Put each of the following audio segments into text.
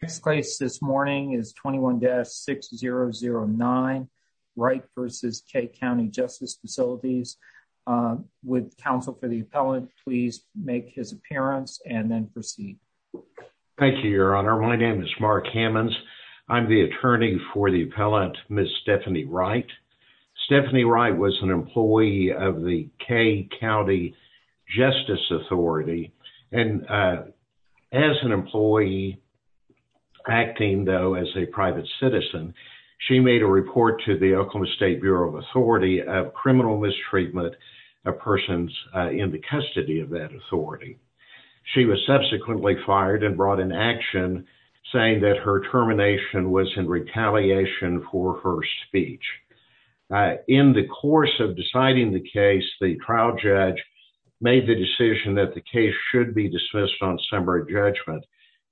This case this morning is 21-6009 Wright v. Kay County Justice Facilities. Would counsel for the appellant please make his appearance and then proceed. Thank you, Your Honor. My name is Mark Hammons. I'm the attorney for the appellant, Ms. Stephanie Wright. Stephanie Wright was an employee of the Kay County Justice Authority. And as an employee, acting though as a private citizen, she made a report to the Oklahoma State Bureau of Authority of criminal mistreatment of persons in the custody of that authority. She was subsequently fired and brought in action saying that her termination was in retaliation for her speech. In the course of deciding the case, the trial judge made the decision that the case should be dismissed on summary judgment,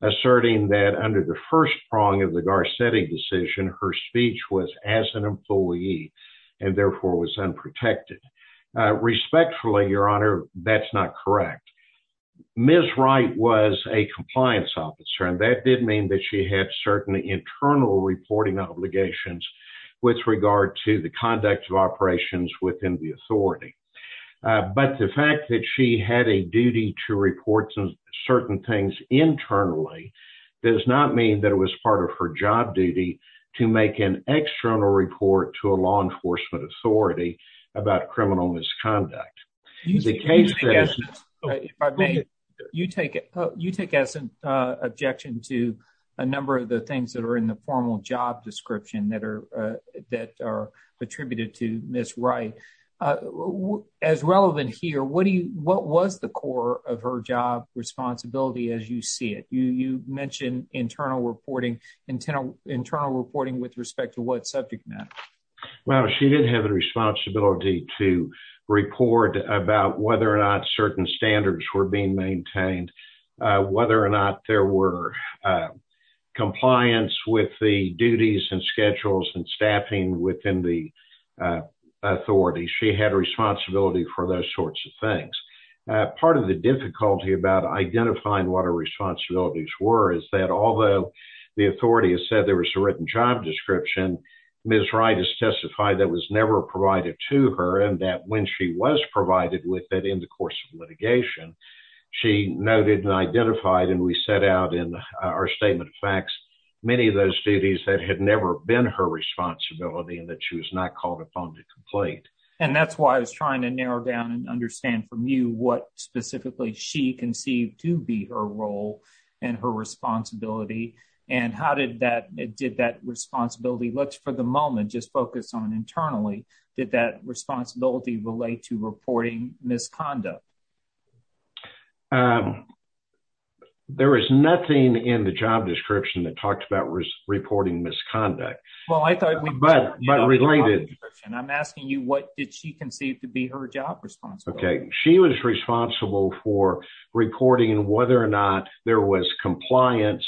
asserting that under the first prong of the Garcetti decision, her speech was as an employee and therefore was unprotected. Respectfully, Your Honor, that's not correct. Ms. Wright was a compliance officer and that did mean that she had certain internal reporting obligations with regard to the conduct of operations within the authority. But the fact that she had a duty to report certain things internally does not mean that it was part of her job duty to make an external report to a law enforcement authority about criminal misconduct. You take it, you take as an objection to a number of the things that are in the formal job description that are attributed to Ms. Wright. As relevant here, what was the core of her job responsibility as you see it? You mentioned internal reporting with respect to what subject matter? Well, she did have a responsibility to report about whether or not certain standards were being maintained, whether or not there were compliance with the duties and schedules and staffing within the authority. She had responsibility for those sorts of things. Part of the difficulty about identifying what her responsibilities were is that although the authority has said there was a written job description, Ms. Wright has testified that was never provided to her and that when she was provided with it in the course of litigation, she noted and identified and we set out in our statement of facts, many of those duties that had never been her responsibility and that she was not called upon to complete. And that's why I was trying to narrow down and understand from you what specifically she conceived to be her role and her responsibility and how did that responsibility, let's for the moment just focus on internally, did that responsibility relate to reporting misconduct? There is nothing in the job description that talks about reporting misconduct. I'm asking you what did she conceive to be her job responsibility? She was responsible for reporting whether or not there was compliance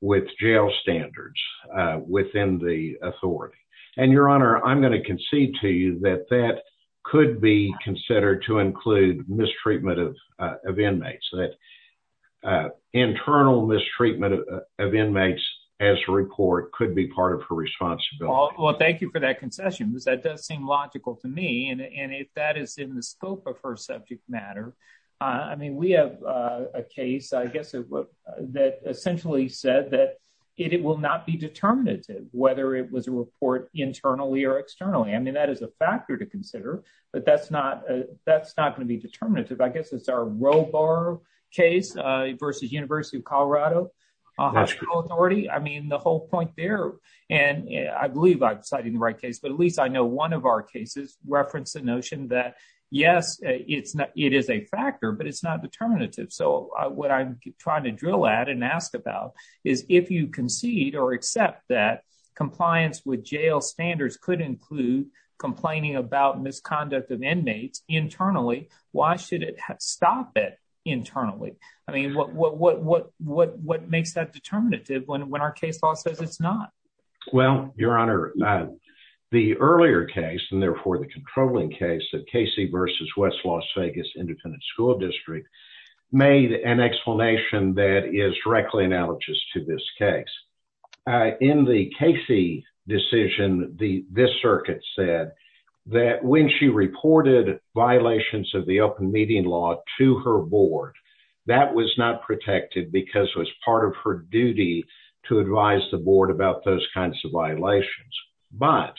with jail standards within the authority. And Your Honor, I'm going to concede to you that that could be considered to include mistreatment of inmates. Internal mistreatment of inmates as a report could be part of her responsibility. Well, thank you for that concession because that does seem logical to me and if that is in the scope of her subject matter. I mean, we have a case, I guess, that essentially said that it will not be determinative whether it was a report internally or externally. I mean, that is a factor to consider, but that's not going to be determinative. I guess it's our Robar case versus University of Colorado Hospital Authority. I mean, the whole point there, and I believe I'm citing the right case, but at least I reference the notion that yes, it is a factor, but it's not determinative. So what I'm trying to drill at and ask about is if you concede or accept that compliance with jail standards could include complaining about misconduct of inmates internally, why should it stop it internally? I mean, what makes that determinative when our case law says it's not? Well, Your Honor, the earlier case and therefore the controlling case of Casey versus West Las Vegas Independent School District made an explanation that is directly analogous to this case. In the Casey decision, this circuit said that when she reported violations of the open meeting law to her board, that was not protected because it was part of her duty to advise the board about those kinds of violations. But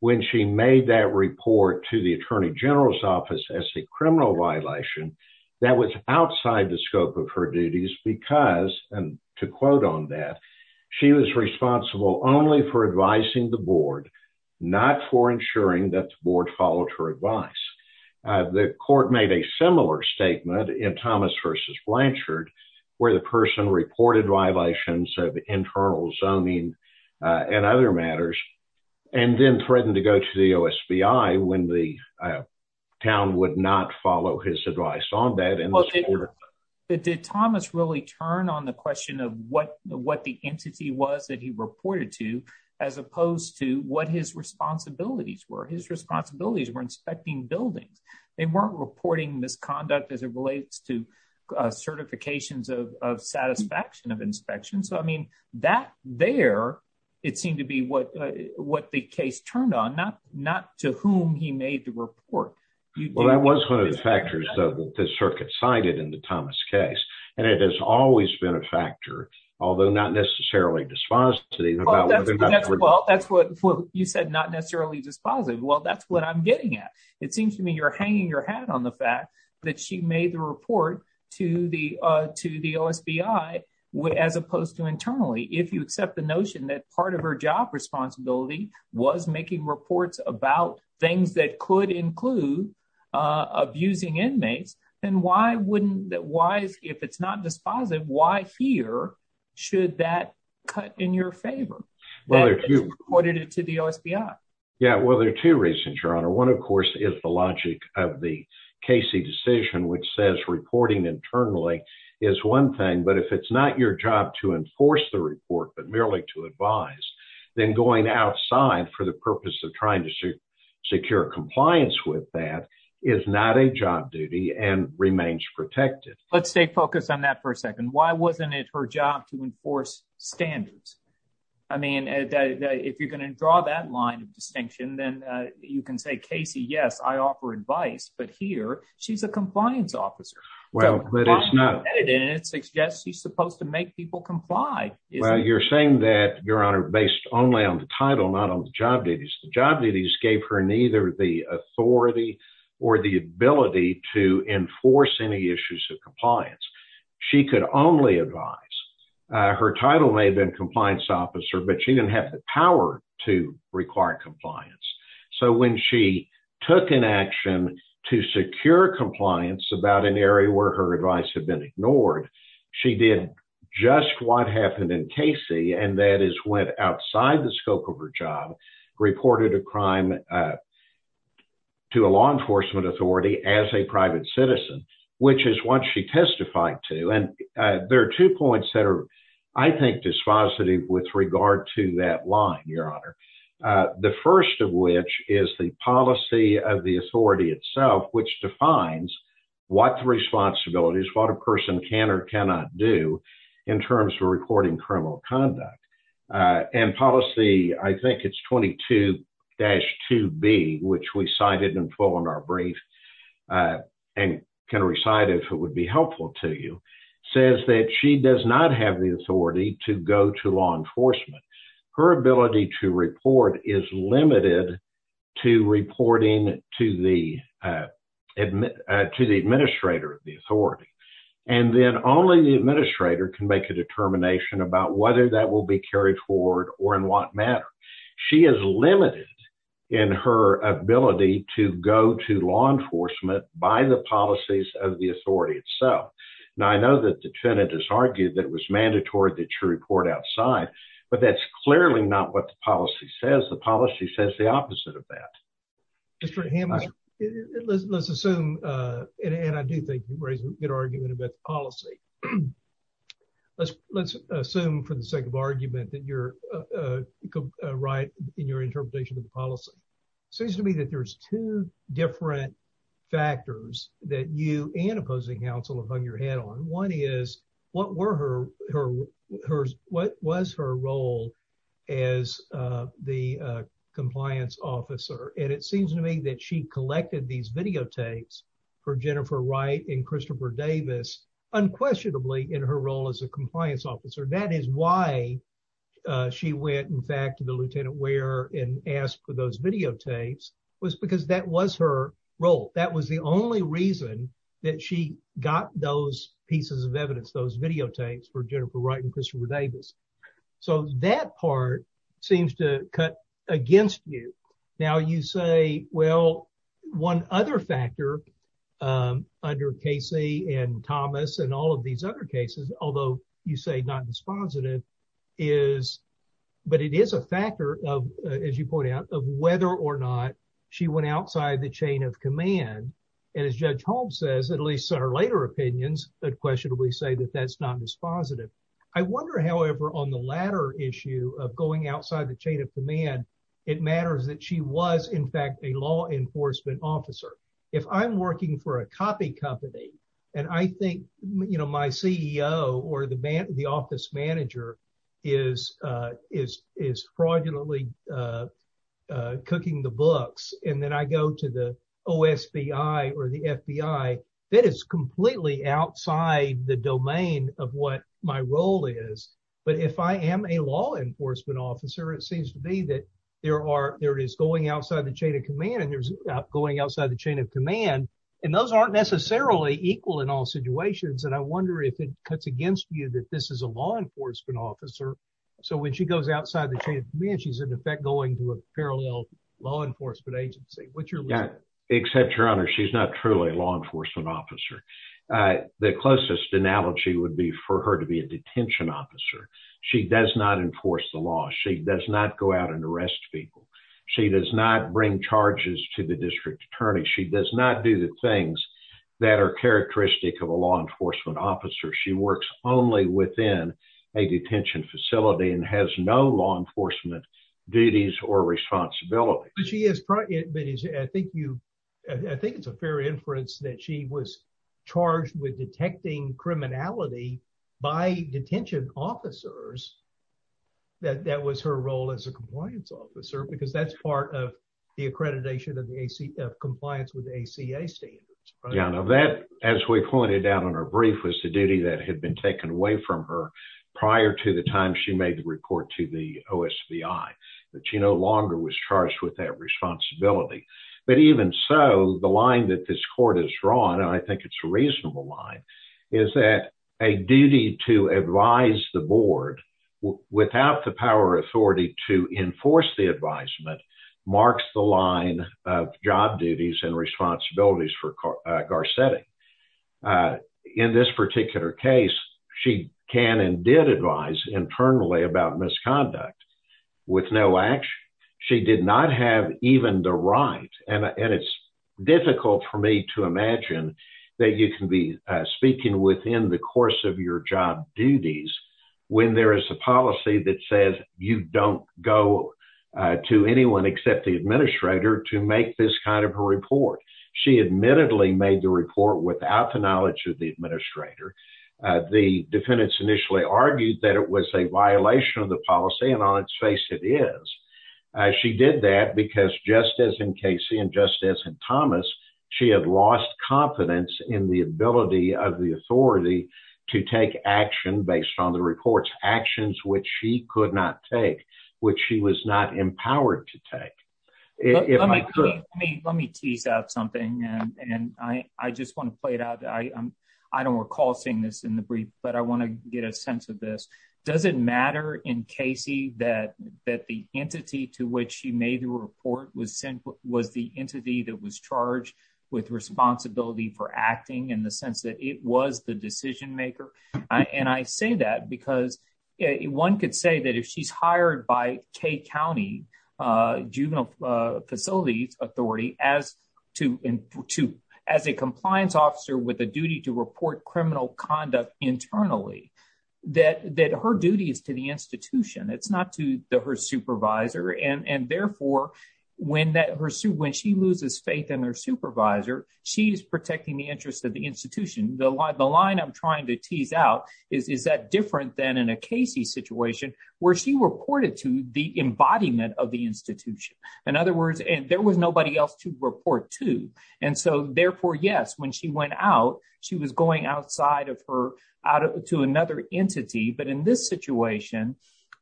when she made that report to the attorney general's office as a criminal violation, that was outside the scope of her duties because, and to quote on that, she was responsible only for advising the board, not for ensuring that the board followed her advice. The court made a similar statement in Thomas versus Blanchard, where the person reported violations of internal zoning and other matters and then threatened to go to the OSBI when the town would not follow his advice on that. Did Thomas really turn on the question of what the entity was that he reported to as opposed to what his responsibilities were? His responsibilities were inspecting buildings. They weren't reporting misconduct as it relates to certifications of satisfaction of inspection. So, I mean, that there, it seemed to be what the case turned on, not to whom he made the report. Well, that was one of the factors, though, that the circuit cited in the Thomas case, and it has always been a factor, although not necessarily dispositive. Well, that's what you said, not necessarily dispositive. Well, that's what I'm getting at. It seems to me you're hanging your hat on the fact that she made the report to the OSBI as opposed to internally. If you accept the notion that part of her job responsibility was making reports about things that could include abusing inmates, then why wouldn't, why, if it's not dispositive, why here should that cut in your favor? Well, if you reported it to the OSBI. Yeah, well, there are two reasons, Your Honor. One, of course, is the logic of the Casey decision, which says reporting internally is one thing, but if it's not your job to enforce the report, but merely to advise, then going outside for the purpose of trying to secure compliance with that is not a job duty and remains protected. Let's stay focused on that for a second. Why wasn't it her job to enforce standards? I mean, if you're going to draw that line of distinction, then you can say, Casey, yes, I offer advice, but here she's a compliance officer. Well, but it's not. And it suggests she's supposed to make people comply. Well, you're saying that, Your Honor, based only on the title, not on the job duties. The job duties gave her neither the authority or the ability to enforce any issues of compliance. She could only advise. Her title may have been compliance officer, but she didn't have the power to require compliance. So when she took an action to secure compliance about an area where her advice had been ignored, she did just what happened in Casey, and that is went outside the scope of her job, reported a crime to a law enforcement authority as a private citizen, which is what she testified to. And there are two points that are, I think, dispositive with regard to that line, Your Honor. The first of which is the policy of the authority itself, which defines what the responsibility is, what a person can or cannot do in terms of reporting criminal conduct. And policy, I think it's 22-2B, which we cited in full in our brief, and can recite if it would be helpful to you, says that she does not have the authority to go to law enforcement. Her ability to report is limited to reporting to the administrator of the authority. And then only the administrator can make a determination about whether that will be carried forward or in what manner. She is limited in her ability to go to law enforcement by the policies of the authority itself. Now, I know that the tenant has argued that it was mandatory that you report outside, but that's clearly not what the policy says. The policy says the opposite of that. Mr. Hammond, let's assume, and I do think you raised a good argument about the policy. Let's assume for the sake of argument that you're right in your interpretation of the policy. It seems to me that there's two different factors that you and opposing counsel have hung your head on. One is, what was her role as the compliance officer? And it seems to me that she collected these videotapes for Jennifer Wright and Christopher Davis unquestionably in her role as a compliance officer. That is why she went, in fact, to the Lieutenant Ware and asked for those videotapes was because that was her role. That was the only reason that she got those pieces of evidence, those videotapes for Jennifer Wright and Christopher Davis. So that part seems to cut against you. Now you say, well, one other factor under Casey and Thomas and all of these other cases, although you say not dispositive is, but it is a factor of, as you pointed out, of whether or not she went outside the chain of command. And as Judge Holmes says, at least our later opinions that questionably say that that's not dispositive. I wonder, however, on the latter issue of going outside the chain of command, it matters that she was, in fact, a law enforcement officer. If I'm working for a copy company, and I think, you know, my CEO or the office manager is fraudulently cooking the books, and then I go to the OSBI or the FBI, that is completely outside the domain of what my role is. But if I am a law enforcement officer, it seems to me that there are, there is going outside the chain of command, and there's going outside the chain of command, and those aren't necessarily equal in all situations. And I wonder if it cuts against you that this is a law enforcement officer. So when she goes outside the chain of command, she's in effect going to a parallel law enforcement agency. What's your law enforcement officer? The closest analogy would be for her to be a detention officer. She does not enforce the law. She does not go out and arrest people. She does not bring charges to the district attorney. She does not do the things that are characteristic of a law enforcement officer. She works only within a detention facility and has no law enforcement duties or responsibility. But she is, I think it's a fair inference that she was charged with detecting criminality by detention officers, that that was her role as a compliance officer, because that's part of the accreditation of compliance with ACA standards. Yeah, now that, as we pointed out in our brief, was the duty that had been taken away from her prior to the time she made the report to the OSVI, that she no longer was charged with that responsibility. But even so, the line that this court has drawn, and I think it's a reasonable line, is that a duty to advise the board without the power or authority to enforce the advisement marks the line of job duties and responsibilities for Garcetti. In this particular case, she can did advise internally about misconduct with no action. She did not have even the right, and it's difficult for me to imagine that you can be speaking within the course of your job duties when there is a policy that says you don't go to anyone except the administrator to make this kind of a report. She admittedly made the report without the knowledge of the administrator. The defendants initially argued that it was a violation of the policy, and on its face it is. She did that because, just as in Casey and just as in Thomas, she had lost confidence in the ability of the authority to take action based on the reports, actions which she could not take, which she was not empowered to take. Let me tease out something, and I just want to play out. I don't recall seeing this in the brief, but I want to get a sense of this. Does it matter in Casey that the entity to which she made the report was the entity that was charged with responsibility for acting in the sense that it was the decision maker? I say that because one could say that if she's hired by K County Juvenile Facilities Authority as a compliance officer with a duty to report criminal conduct internally, that her duty is to the institution. It's not to her supervisor. Therefore, when she loses faith in her supervisor, she is protecting the interest of the institution. The line I'm trying to tease out is that different than in a Casey situation where she reported to the embodiment of the institution. In other words, there was nobody else to report to. Therefore, yes, when she went out, she was going outside to another entity, but in this situation,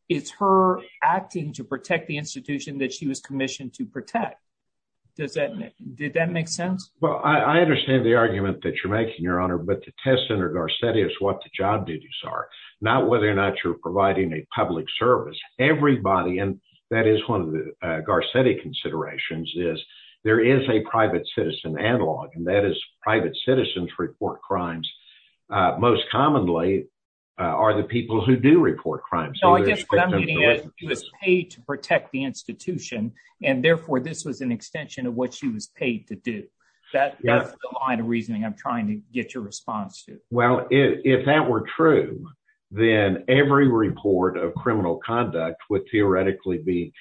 it's her acting to protect the institution that she was commissioned to protect. Did that make sense? Well, I understand the argument that you're making, Your Honor, but the test under Garcetti is what the job duties are, not whether or not you're responsible. The test under Garcetti considerations is there is a private citizen analog, and that is private citizens report crimes most commonly are the people who do report crimes. No, I guess what I'm getting at is she was paid to protect the institution, and therefore, this was an extension of what she was paid to do. That's the line of reasoning I'm trying to get your response to. Well, if that were true, then every report of criminal conduct would theoretically be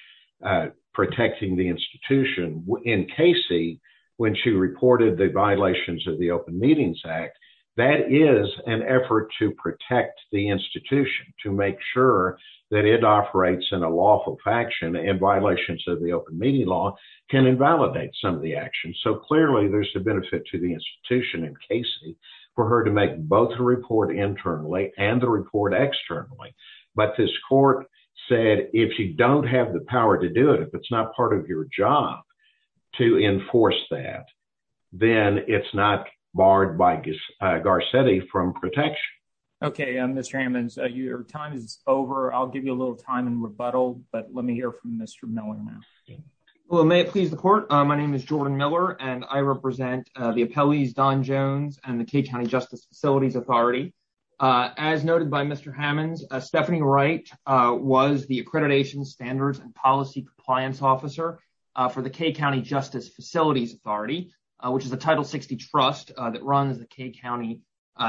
protecting the institution. In Casey, when she reported the violations of the Open Meetings Act, that is an effort to protect the institution to make sure that it operates in a lawful faction and violations of the Open Meeting Law can invalidate some of the actions. So clearly, there's a benefit to the institution in Casey for her to make both the report internally and report externally. But this court said if you don't have the power to do it, if it's not part of your job to enforce that, then it's not barred by Garcetti from protection. Okay, Mr. Hammonds, your time is over. I'll give you a little time in rebuttal, but let me hear from Mr. Miller now. Well, may it please the court. My name is Jordan Miller, and I represent the appellees Don Jones and the K County Justice Facilities Authority. As noted by Mr. Hammonds, Stephanie Wright was the Accreditation Standards and Policy Compliance Officer for the K County Justice Facilities Authority, which is a Title 60 trust that runs the K County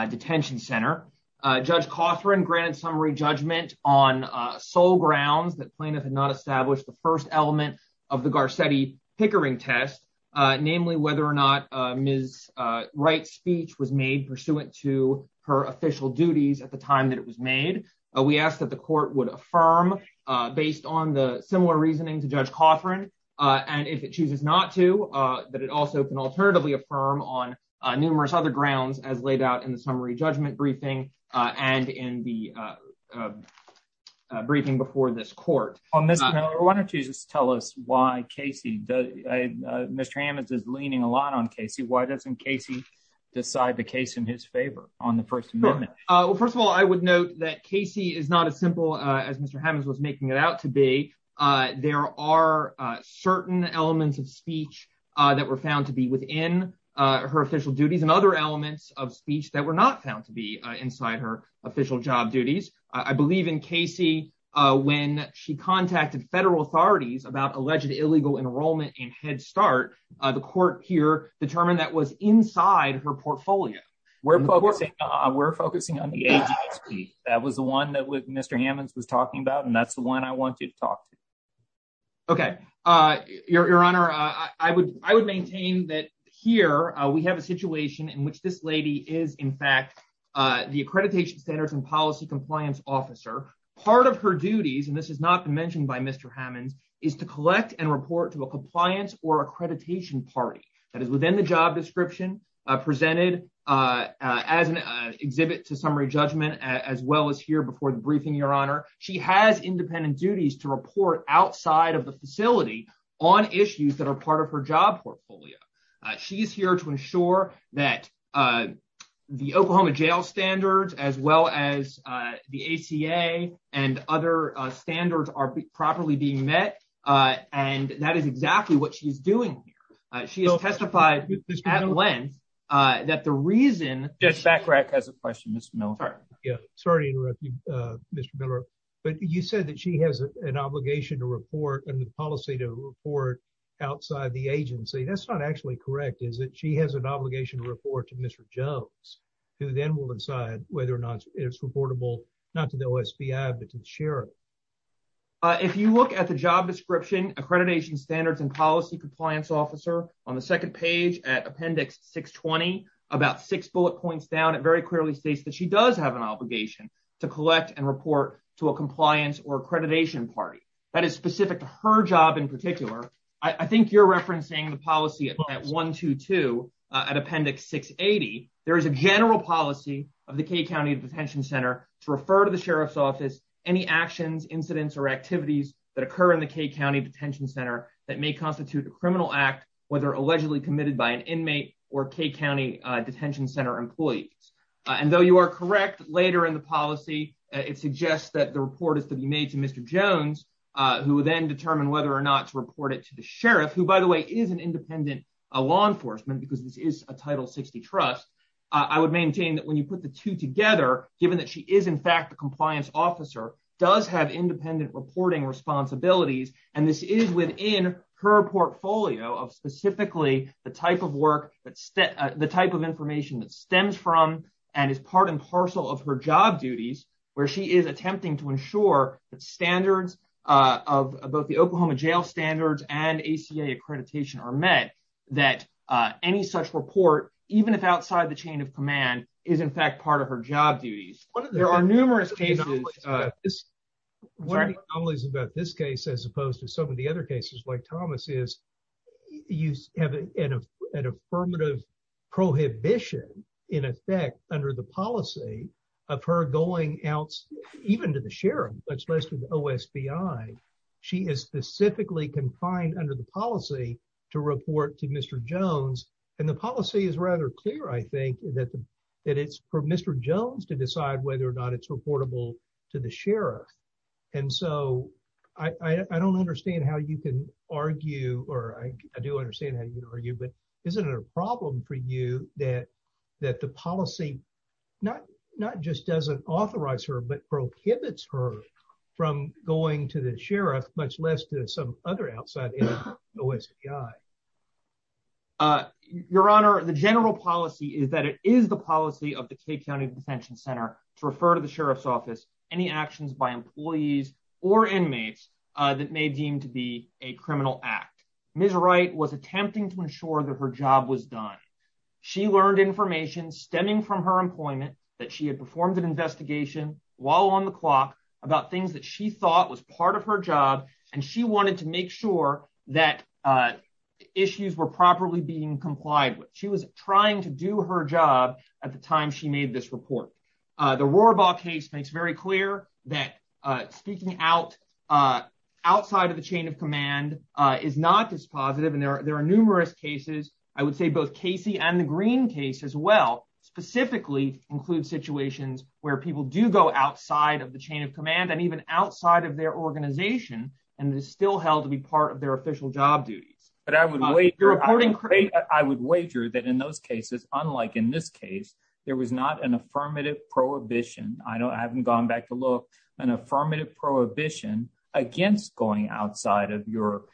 Detention Center. Judge Cawthorne granted summary judgment on sole grounds that plaintiff had not established the first element of the Garcetti Pickering test, namely whether or not Ms. Wright's speech was made pursuant to her official duties at the time that it was made. We ask that the court would affirm based on the similar reasoning to Judge Cawthorne, and if it chooses not to, that it also can alternatively affirm on numerous other grounds as laid out in the summary judgment briefing and in the briefing before this court. Well, Mr. Miller, why don't you just tell us why Casey, Mr. Hammonds is leaning a lot on Casey. Why doesn't Casey decide the case in his favor on the first amendment? Well, first of all, I would note that Casey is not as simple as Mr. Hammonds was making it out to be. There are certain elements of speech that were found to be within her official duties and other elements of speech that were not found to be inside her official job duties. I believe in Casey, when she contacted federal authorities about alleged illegal enrollment in Head Start, the court here determined that was inside her portfolio. We're focusing on the agency. That was the one that Mr. Hammonds was talking about, and that's the one I want you to talk to. Okay. Your Honor, I would maintain that here we have a situation in which this lady is, in fact, the Accreditation Standards and Policy Compliance Officer. Part of her duties, and this is not mentioned by Mr. Hammonds, is to collect and report to a compliance or accreditation party that is within the job description presented as an exhibit to summary judgment as well as here before the briefing, she has independent duties to report outside of the facility on issues that are part of her job portfolio. She's here to ensure that the Oklahoma Jail Standards as well as the ACA and other standards are properly being met, and that is exactly what she's doing here. She has testified at length that the reason... Judge Backrack has a question, Mr. Miller. Sorry to interrupt you, Mr. Miller, but you said that she has an obligation to report and the policy to report outside the agency. That's not actually correct, is it? She has an obligation to report to Mr. Jones, who then will decide whether or not it's reportable, not to the OSPI, but to the sheriff. If you look at the job description, Accreditation Standards and Policy Compliance Officer on the second page at Appendix 620, about six bullet points down, very clearly states that she does have an obligation to collect and report to a compliance or accreditation party that is specific to her job in particular. I think you're referencing the policy at 122 at Appendix 680. There is a general policy of the K County Detention Center to refer to the sheriff's office any actions, incidents, or activities that occur in the K County Detention Center that may constitute a criminal act, whether allegedly committed by an And though you are correct, later in the policy, it suggests that the report is to be made to Mr. Jones, who will then determine whether or not to report it to the sheriff, who, by the way, is an independent law enforcement, because this is a Title 60 trust. I would maintain that when you put the two together, given that she is in fact a compliance officer, does have independent reporting responsibilities, and this is within her portfolio of specifically the type of work the type of information that stems from and is part and parcel of her job duties, where she is attempting to ensure that standards of both the Oklahoma Jail standards and ACA accreditation are met, that any such report, even if outside the chain of command, is in fact part of her job duties. There are numerous cases. One of the anomalies about this case, as opposed to some of the other cases like Thomas's, you have an affirmative prohibition in effect under the policy of her going out, even to the sheriff, much less to the OSBI. She is specifically confined under the policy to report to Mr. Jones, and the policy is rather clear, I think, that it's for Mr. Jones to decide whether or not it's And so, I don't understand how you can argue, or I do understand how you can argue, but isn't it a problem for you that the policy not just doesn't authorize her, but prohibits her from going to the sheriff, much less to some other outside OSBI? Your Honor, the general policy is that it is the policy of the K County Detention Center to refer to the sheriff's office any actions by employees or inmates that may deem to be a criminal act. Ms. Wright was attempting to ensure that her job was done. She learned information stemming from her employment that she had performed an investigation while on the clock about things that she thought was part of her job, and she wanted to make sure that issues were properly being complied with. She was trying to do her job at the time she was on the clock. The Rohrabach case makes very clear that speaking outside of the chain of command is not dispositive, and there are numerous cases, I would say both Casey and the Green case as well, specifically include situations where people do go outside of the chain of command, and even outside of their organization, and is still held to be part of their official job duties. But I would wager that in those cases, unlike in this case, there was not an affirmative prohibition, I haven't gone back to look, an affirmative prohibition against going outside of your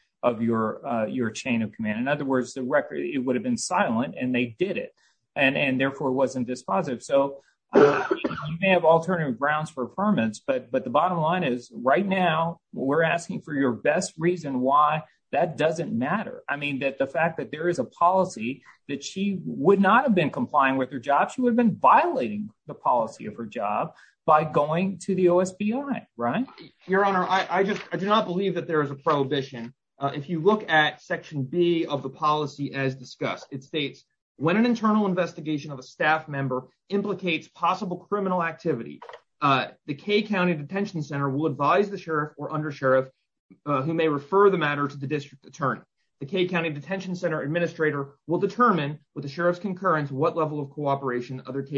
chain of command. In other words, the record, it would have been silent, and they did it, and therefore it wasn't dispositive. So you may have alternative grounds for affirmance, but the bottom line is, right now, we're asking for your best reason why that doesn't matter. I mean, that the fact that there is a policy that she would not have been complying with her job, she would have been violating the policy of her job by going to the OSBI, right? Your Honor, I do not believe that there is a prohibition. If you look at section B of the policy as discussed, it states, when an internal investigation of a staff member implicates possible criminal activity, the K County Detention Center will advise the sheriff or undersheriff who may refer the matter to the district attorney. The K County Detention Center administrator will other K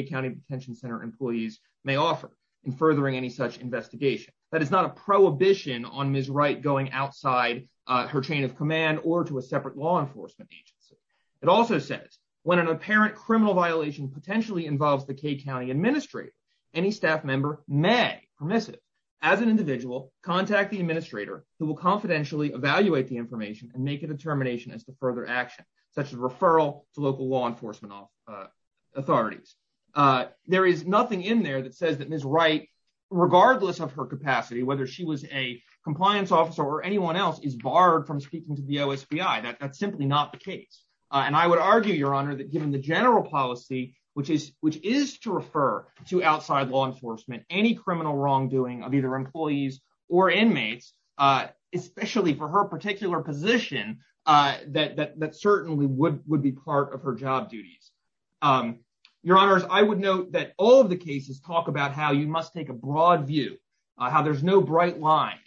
County Detention Center employees may offer in furthering any such investigation. That is not a prohibition on Ms. Wright going outside her chain of command or to a separate law enforcement agency. It also says, when an apparent criminal violation potentially involves the K County administrator, any staff member may, permissive, as an individual, contact the administrator who will confidentially evaluate the information and make a determination as to There is nothing in there that says that Ms. Wright, regardless of her capacity, whether she was a compliance officer or anyone else, is barred from speaking to the OSBI. That's simply not the case. And I would argue, Your Honor, that given the general policy, which is to refer to outside law enforcement any criminal wrongdoing of either employees or inmates, especially for her particular position, that certainly would be part of her job duties. Your Honors, I would note that all of the cases talk about how you must take a broad view, how there's no bright lines,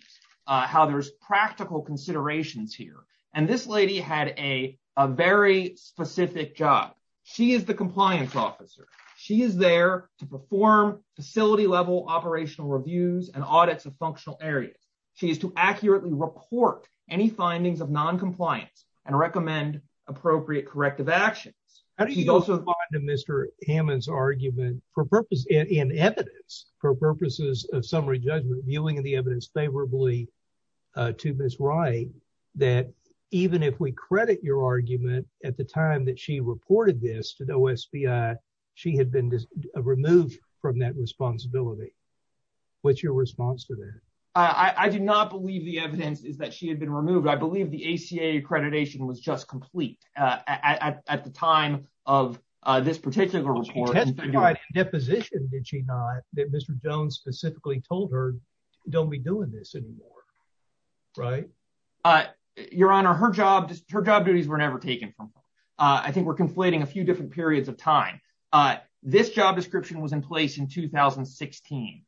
how there's practical considerations here. And this lady had a very specific job. She is the compliance officer. She is there to perform facility-level operational reviews and audits of functional areas. She is to accurately report any findings of non-compliance and recommend appropriate corrective actions. How do you respond to Mr. Hammond's argument for purpose in evidence, for purposes of summary judgment, viewing the evidence favorably to Ms. Wright, that even if we credit your argument at the time that she reported this to the OSBI, she had been removed from that responsibility? What's your response to that? I do not believe the evidence is that she had been removed. I believe the ACA accreditation was just complete at the time of this particular report. Deposition, did she not, that Mr. Jones specifically told her, don't be doing this anymore, right? Your Honor, her job duties were never taken from her. I think we're conflating a few periods of time. This job description was in place in 2016.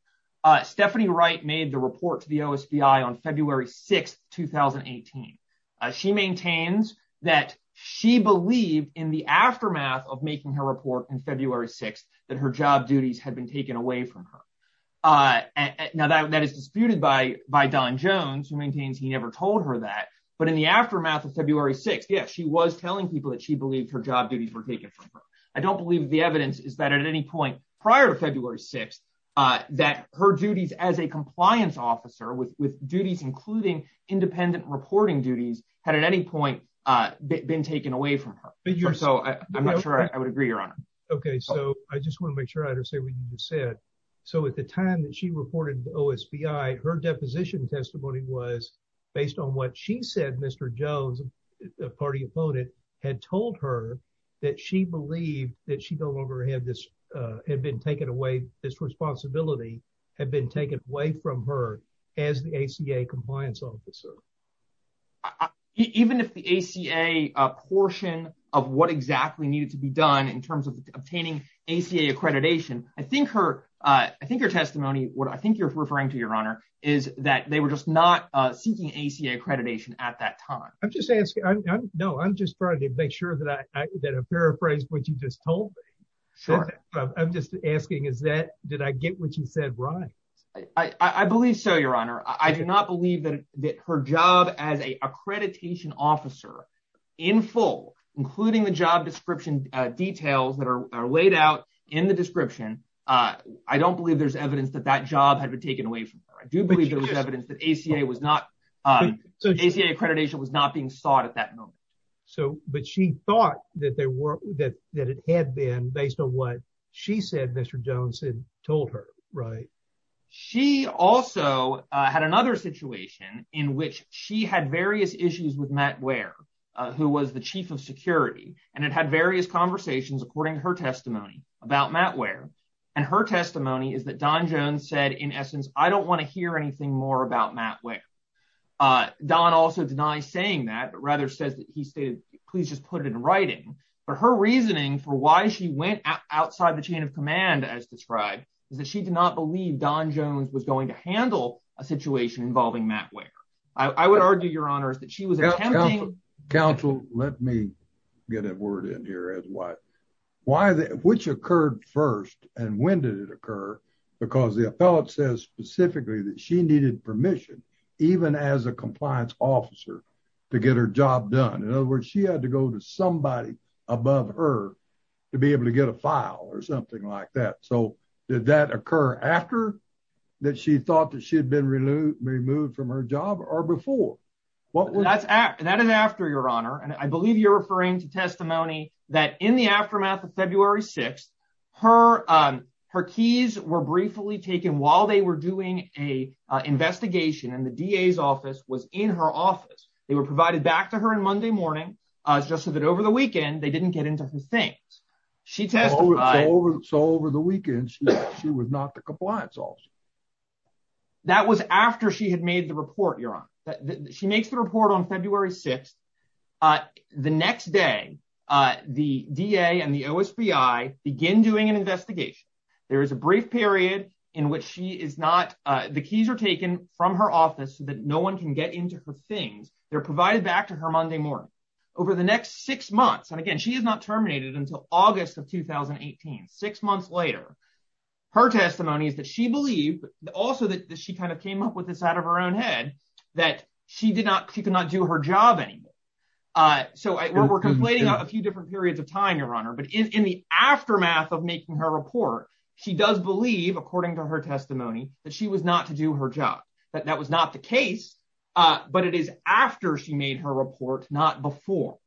Stephanie Wright made the report to the OSBI on February 6th, 2018. She maintains that she believed in the aftermath of making her report on February 6th that her job duties had been taken away from her. Now, that is disputed by Don Jones, who maintains he never told her that. But in the aftermath of February 6th, yes, she was I don't believe the evidence is that at any point prior to February 6th, that her duties as a compliance officer with duties, including independent reporting duties, had at any point been taken away from her. So I'm not sure I would agree, Your Honor. Okay, so I just want to make sure I understand what you said. So at the time that she reported to the OSBI, her deposition that she no longer had this responsibility had been taken away from her as the ACA compliance officer. Even if the ACA portion of what exactly needed to be done in terms of obtaining ACA accreditation, I think her testimony, what I think you're referring to, Your Honor, is that they were just not seeking ACA accreditation at that time. No, I'm just trying to make sure that I paraphrased what you just told me. I'm just asking, did I get what you said right? I believe so, Your Honor. I do not believe that her job as an accreditation officer in full, including the job description details that are laid out in the description, I don't believe there's evidence that that job had been taken away from her. I do believe there was evidence that ACA accreditation was not being sought at that moment. But she thought that it had been based on what she said Mr. Jones had told her, right? She also had another situation in which she had various issues with Matt Ware, who was the chief of security, and it had various conversations according to her testimony about Matt Ware. And her testimony is that Don Jones said, in essence, I don't want to hear anything more about Matt Ware. Don also denies saying that, but rather says that he stated, please just put it in writing. But her reasoning for why she went outside the chain of command, as described, is that she did not believe Don Jones was going to handle a situation involving Matt Ware. I would argue, Your Honor, is that she was attempting- Counsel, let me get a word in here as to why. Which occurred first, and when did it occur? Because the appellate says specifically that she needed permission, even as a compliance officer, to get her job done. In other words, she had to go to somebody above her to be able to get a file or something like that. So did that occur after that she thought that she had been removed from her job or before? That is after, Your Honor, and I believe you're referring to testimony that in the aftermath of February 6th, her keys were briefly taken while they were doing an investigation, and the DA's office was in her office. They were provided back to her on Monday morning, just so that over the weekend, they didn't get into her things. She testified- So over the weekend, she was not the compliance officer. That was after she had made the report, Your Honor. She makes the report on February 6th. The next day, the DA and the OSBI begin doing an investigation. There is a brief period in which she is not- The keys are taken from her office so that no one can get into her things. They're provided back to her Monday morning. Over the next six months, and again, she is not terminated until August of 2018. Six months later, her testimony is that she believed, also that she kind of came up with this out of her own head, that she could not do her job anymore. We're conflating a few different periods of time, Your Honor, but in the aftermath of making her report, she does believe, according to her testimony, that she was not to do her job. That was not the case, but it is after she made her report, not before.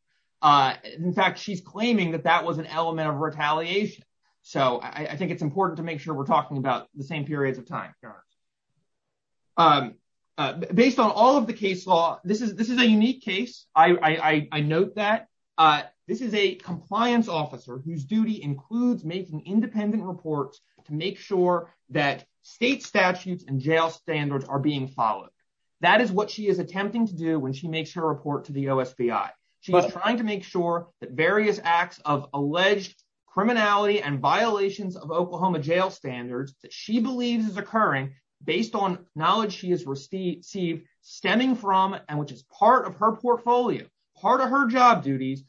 In fact, she's claiming that that was an element of retaliation. I think it's important to make sure we're talking about the same periods of time, Your Honor. Based on all of the case law, this is a unique case. I note that. This is a compliance officer whose duty includes making independent reports to make sure that state statutes and jail standards are being followed. That is what she is attempting to do when she makes her report to the OSBI. She was trying to make sure that various acts of alleged criminality and violations of Oklahoma jail standards that she believes is occurring based on knowledge she has received stemming from and which is part of her portfolio, part of her job duties.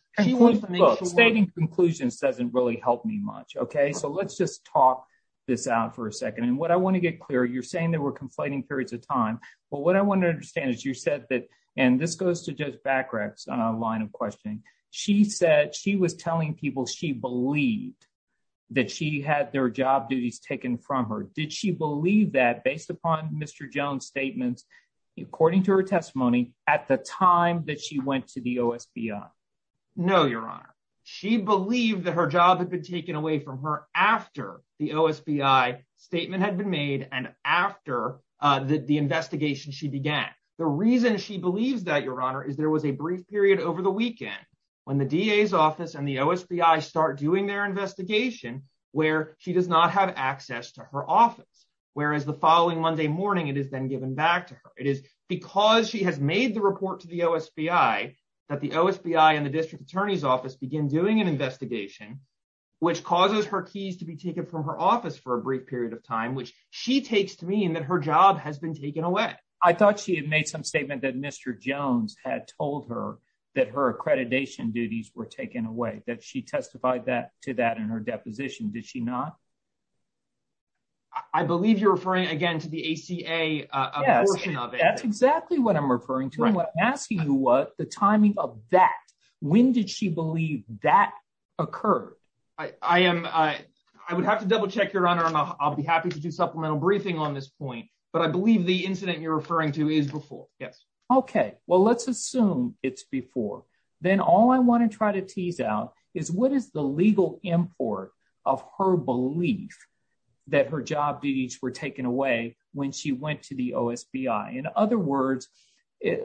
Stating conclusions doesn't really help me much, okay? So let's just talk this out for a second, and what I want to get clear, you're saying there were conflating periods of time, but what I want to understand is you said that, and this goes to Judge Bacrax on a line of questioning. She said she was telling people she believed that she had their job duties taken from her. Did she believe that based upon Mr. Jones' statements, according to her testimony, at the time that she went to the OSBI? No, Your Honor. She believed that her job had been taken away from her after the OSBI statement had been made and after the investigation she began. The reason she believes that, Your Honor, is there was a brief period over the weekend when the DA's office and the OSBI start doing their investigation where she does not have access to her office, whereas the following Monday morning it is then given back to her. It is because she has made the report to the OSBI that the OSBI and the district attorney's office begin doing an investigation, which causes her keys to be taken from her office for a brief period of time, which she takes to mean that her job has been taken away. I thought she had made some statement that Mr. Jones had told her that her accreditation duties were taken away, that she testified to that in her deposition. Did she not? I believe you're referring again to the ACA portion of it. That's exactly what I'm referring to. I'm asking you the timing of that. When did she believe that occurred? I would have to double check, Your Honor, and I'll be happy to do supplemental briefing on this point, but I believe the incident you're referring to is before. Yes. Okay, well, let's assume it's before. Then all I want to try to tease out is what is the legal import of her belief that her job duties were taken away when she went to the OSBI? In other words,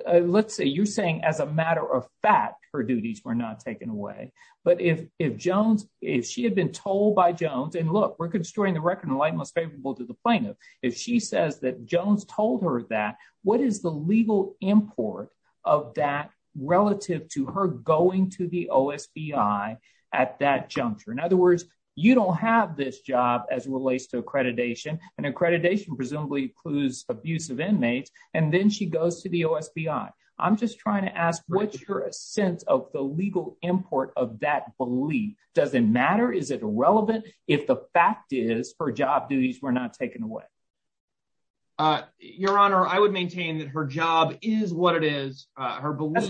let's say you're saying as a matter of fact, her duties were not taken away, but if Jones, if she had been told by Jones, and look, we're construing the record in the light most favorable to the plaintiff. If she says that Jones told her that, what is the legal import of that relative to her going to the OSBI at that juncture? In other words, you don't have this job as it relates to the OSBI. I'm just trying to ask what's your sense of the legal import of that belief? Does it matter? Is it relevant? If the fact is her job duties were not taken away? Your Honor, I would maintain that her job is what it is. That's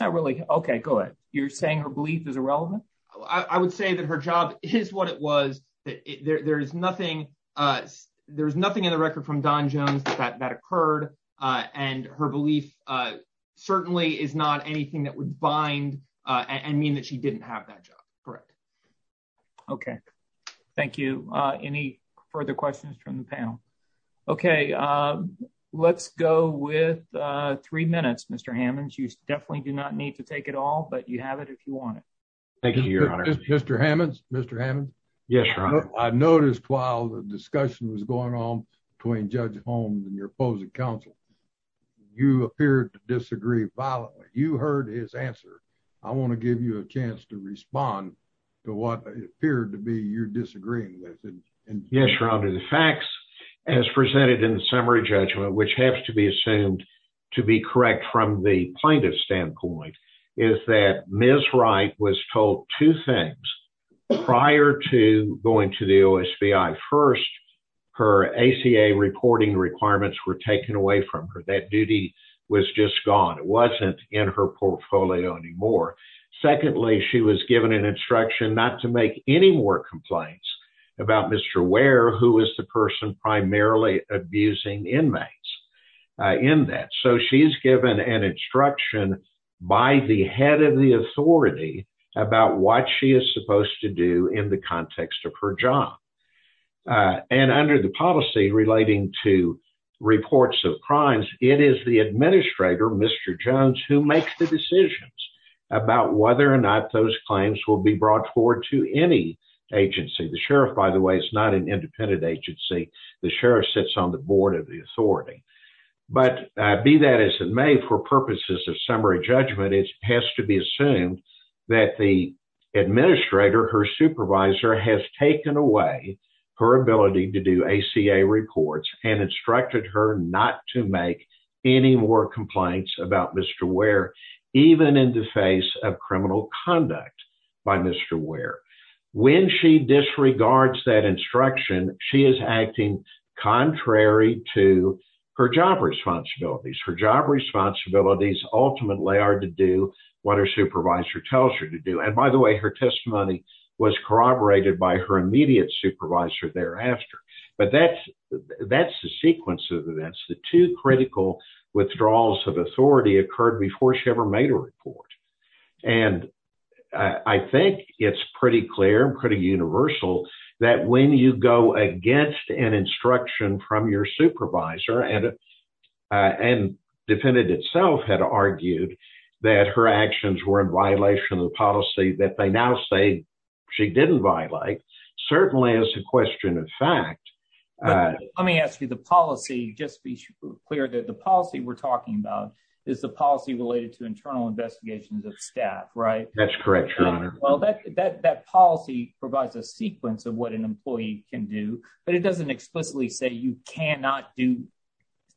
not really. Okay, good. You're saying her belief is irrelevant? I would say that her job is what it was. There's nothing in the record from Don Jones that that occurred. And her belief certainly is not anything that would bind and mean that she didn't have that job. Correct. Okay. Thank you. Any further questions from the panel? Okay. Let's go with three minutes, Mr. Hammond. You definitely do not need to take it all but you have it if you want it. Thank you, Your Honor. Mr. Hammond. Mr. Hammond. Yes. I discussed what was going on between Judge Holmes and your opposing counsel. You appeared to disagree violently. You heard his answer. I want to give you a chance to respond to what appeared to be you're disagreeing with. Yes, Your Honor. The facts as presented in the summary judgment, which has to be assumed to be correct from the plaintiff standpoint, is that Ms. Wright was told two things prior to going to the OSBI. First, her ACA reporting requirements were taken away from her. That duty was just gone. It wasn't in her portfolio anymore. Secondly, she was given an instruction not to make any more complaints about Mr. Ware, who is the person primarily abusing inmates in that. So, she's given an instruction by the head of the authority about what she is supposed to do in the context of her job. Under the policy relating to reports of crimes, it is the administrator, Mr. Jones, who makes the decisions about whether or not those claims will be brought forward to any agency. The sheriff, by the way, is not an independent agency. The sheriff sits on the board of the authority. But, be that as it may, for purposes of summary judgment, it has to be assumed that the administrator, her supervisor, has taken away her ability to do ACA reports and instructed her not to make any more complaints about Mr. Ware, even in the face of criminal conduct by Mr. Ware. When she disregards that instruction, she is acting contrary to her job responsibilities. Her job responsibilities ultimately are to do what her supervisor tells her to do. And, by the way, her testimony was corroborated by her immediate supervisor thereafter. But, that's the sequence of events. The two critical withdrawals of authority occurred before she ever made a report. And, I think it's pretty clear, pretty universal, that when you go against an instruction from your supervisor, and the defendant itself had argued that her actions were in violation of the policy that they now say she didn't violate, certainly is a question of fact. But, let me ask you, the policy, just be clear that the policy we're talking about is the policy related to internal investigations of staff, right? That's correct, your honor. Well, that policy provides a sequence of what an employee can do, but it doesn't explicitly say you cannot do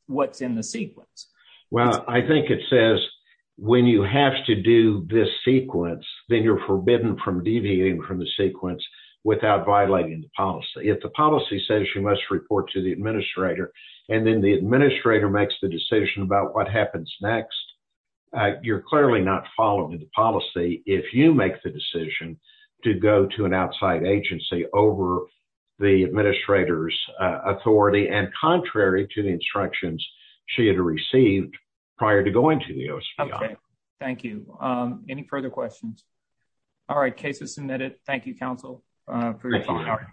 what's in the sequence. Well, I think it says when you have to do this sequence, then you're forbidden from deviating from the sequence without violating the policy. If the policy says you must report to the administrator, and then the administrator makes the decision about what happens next, you're clearly not following the policy if you make the decision to go to an outside agency over the administrator's authority, and contrary to the instructions she had received prior to going to the OSPI. Okay, thank you. Any further questions? All right, case is submitted. Thank you, counsel, for your time.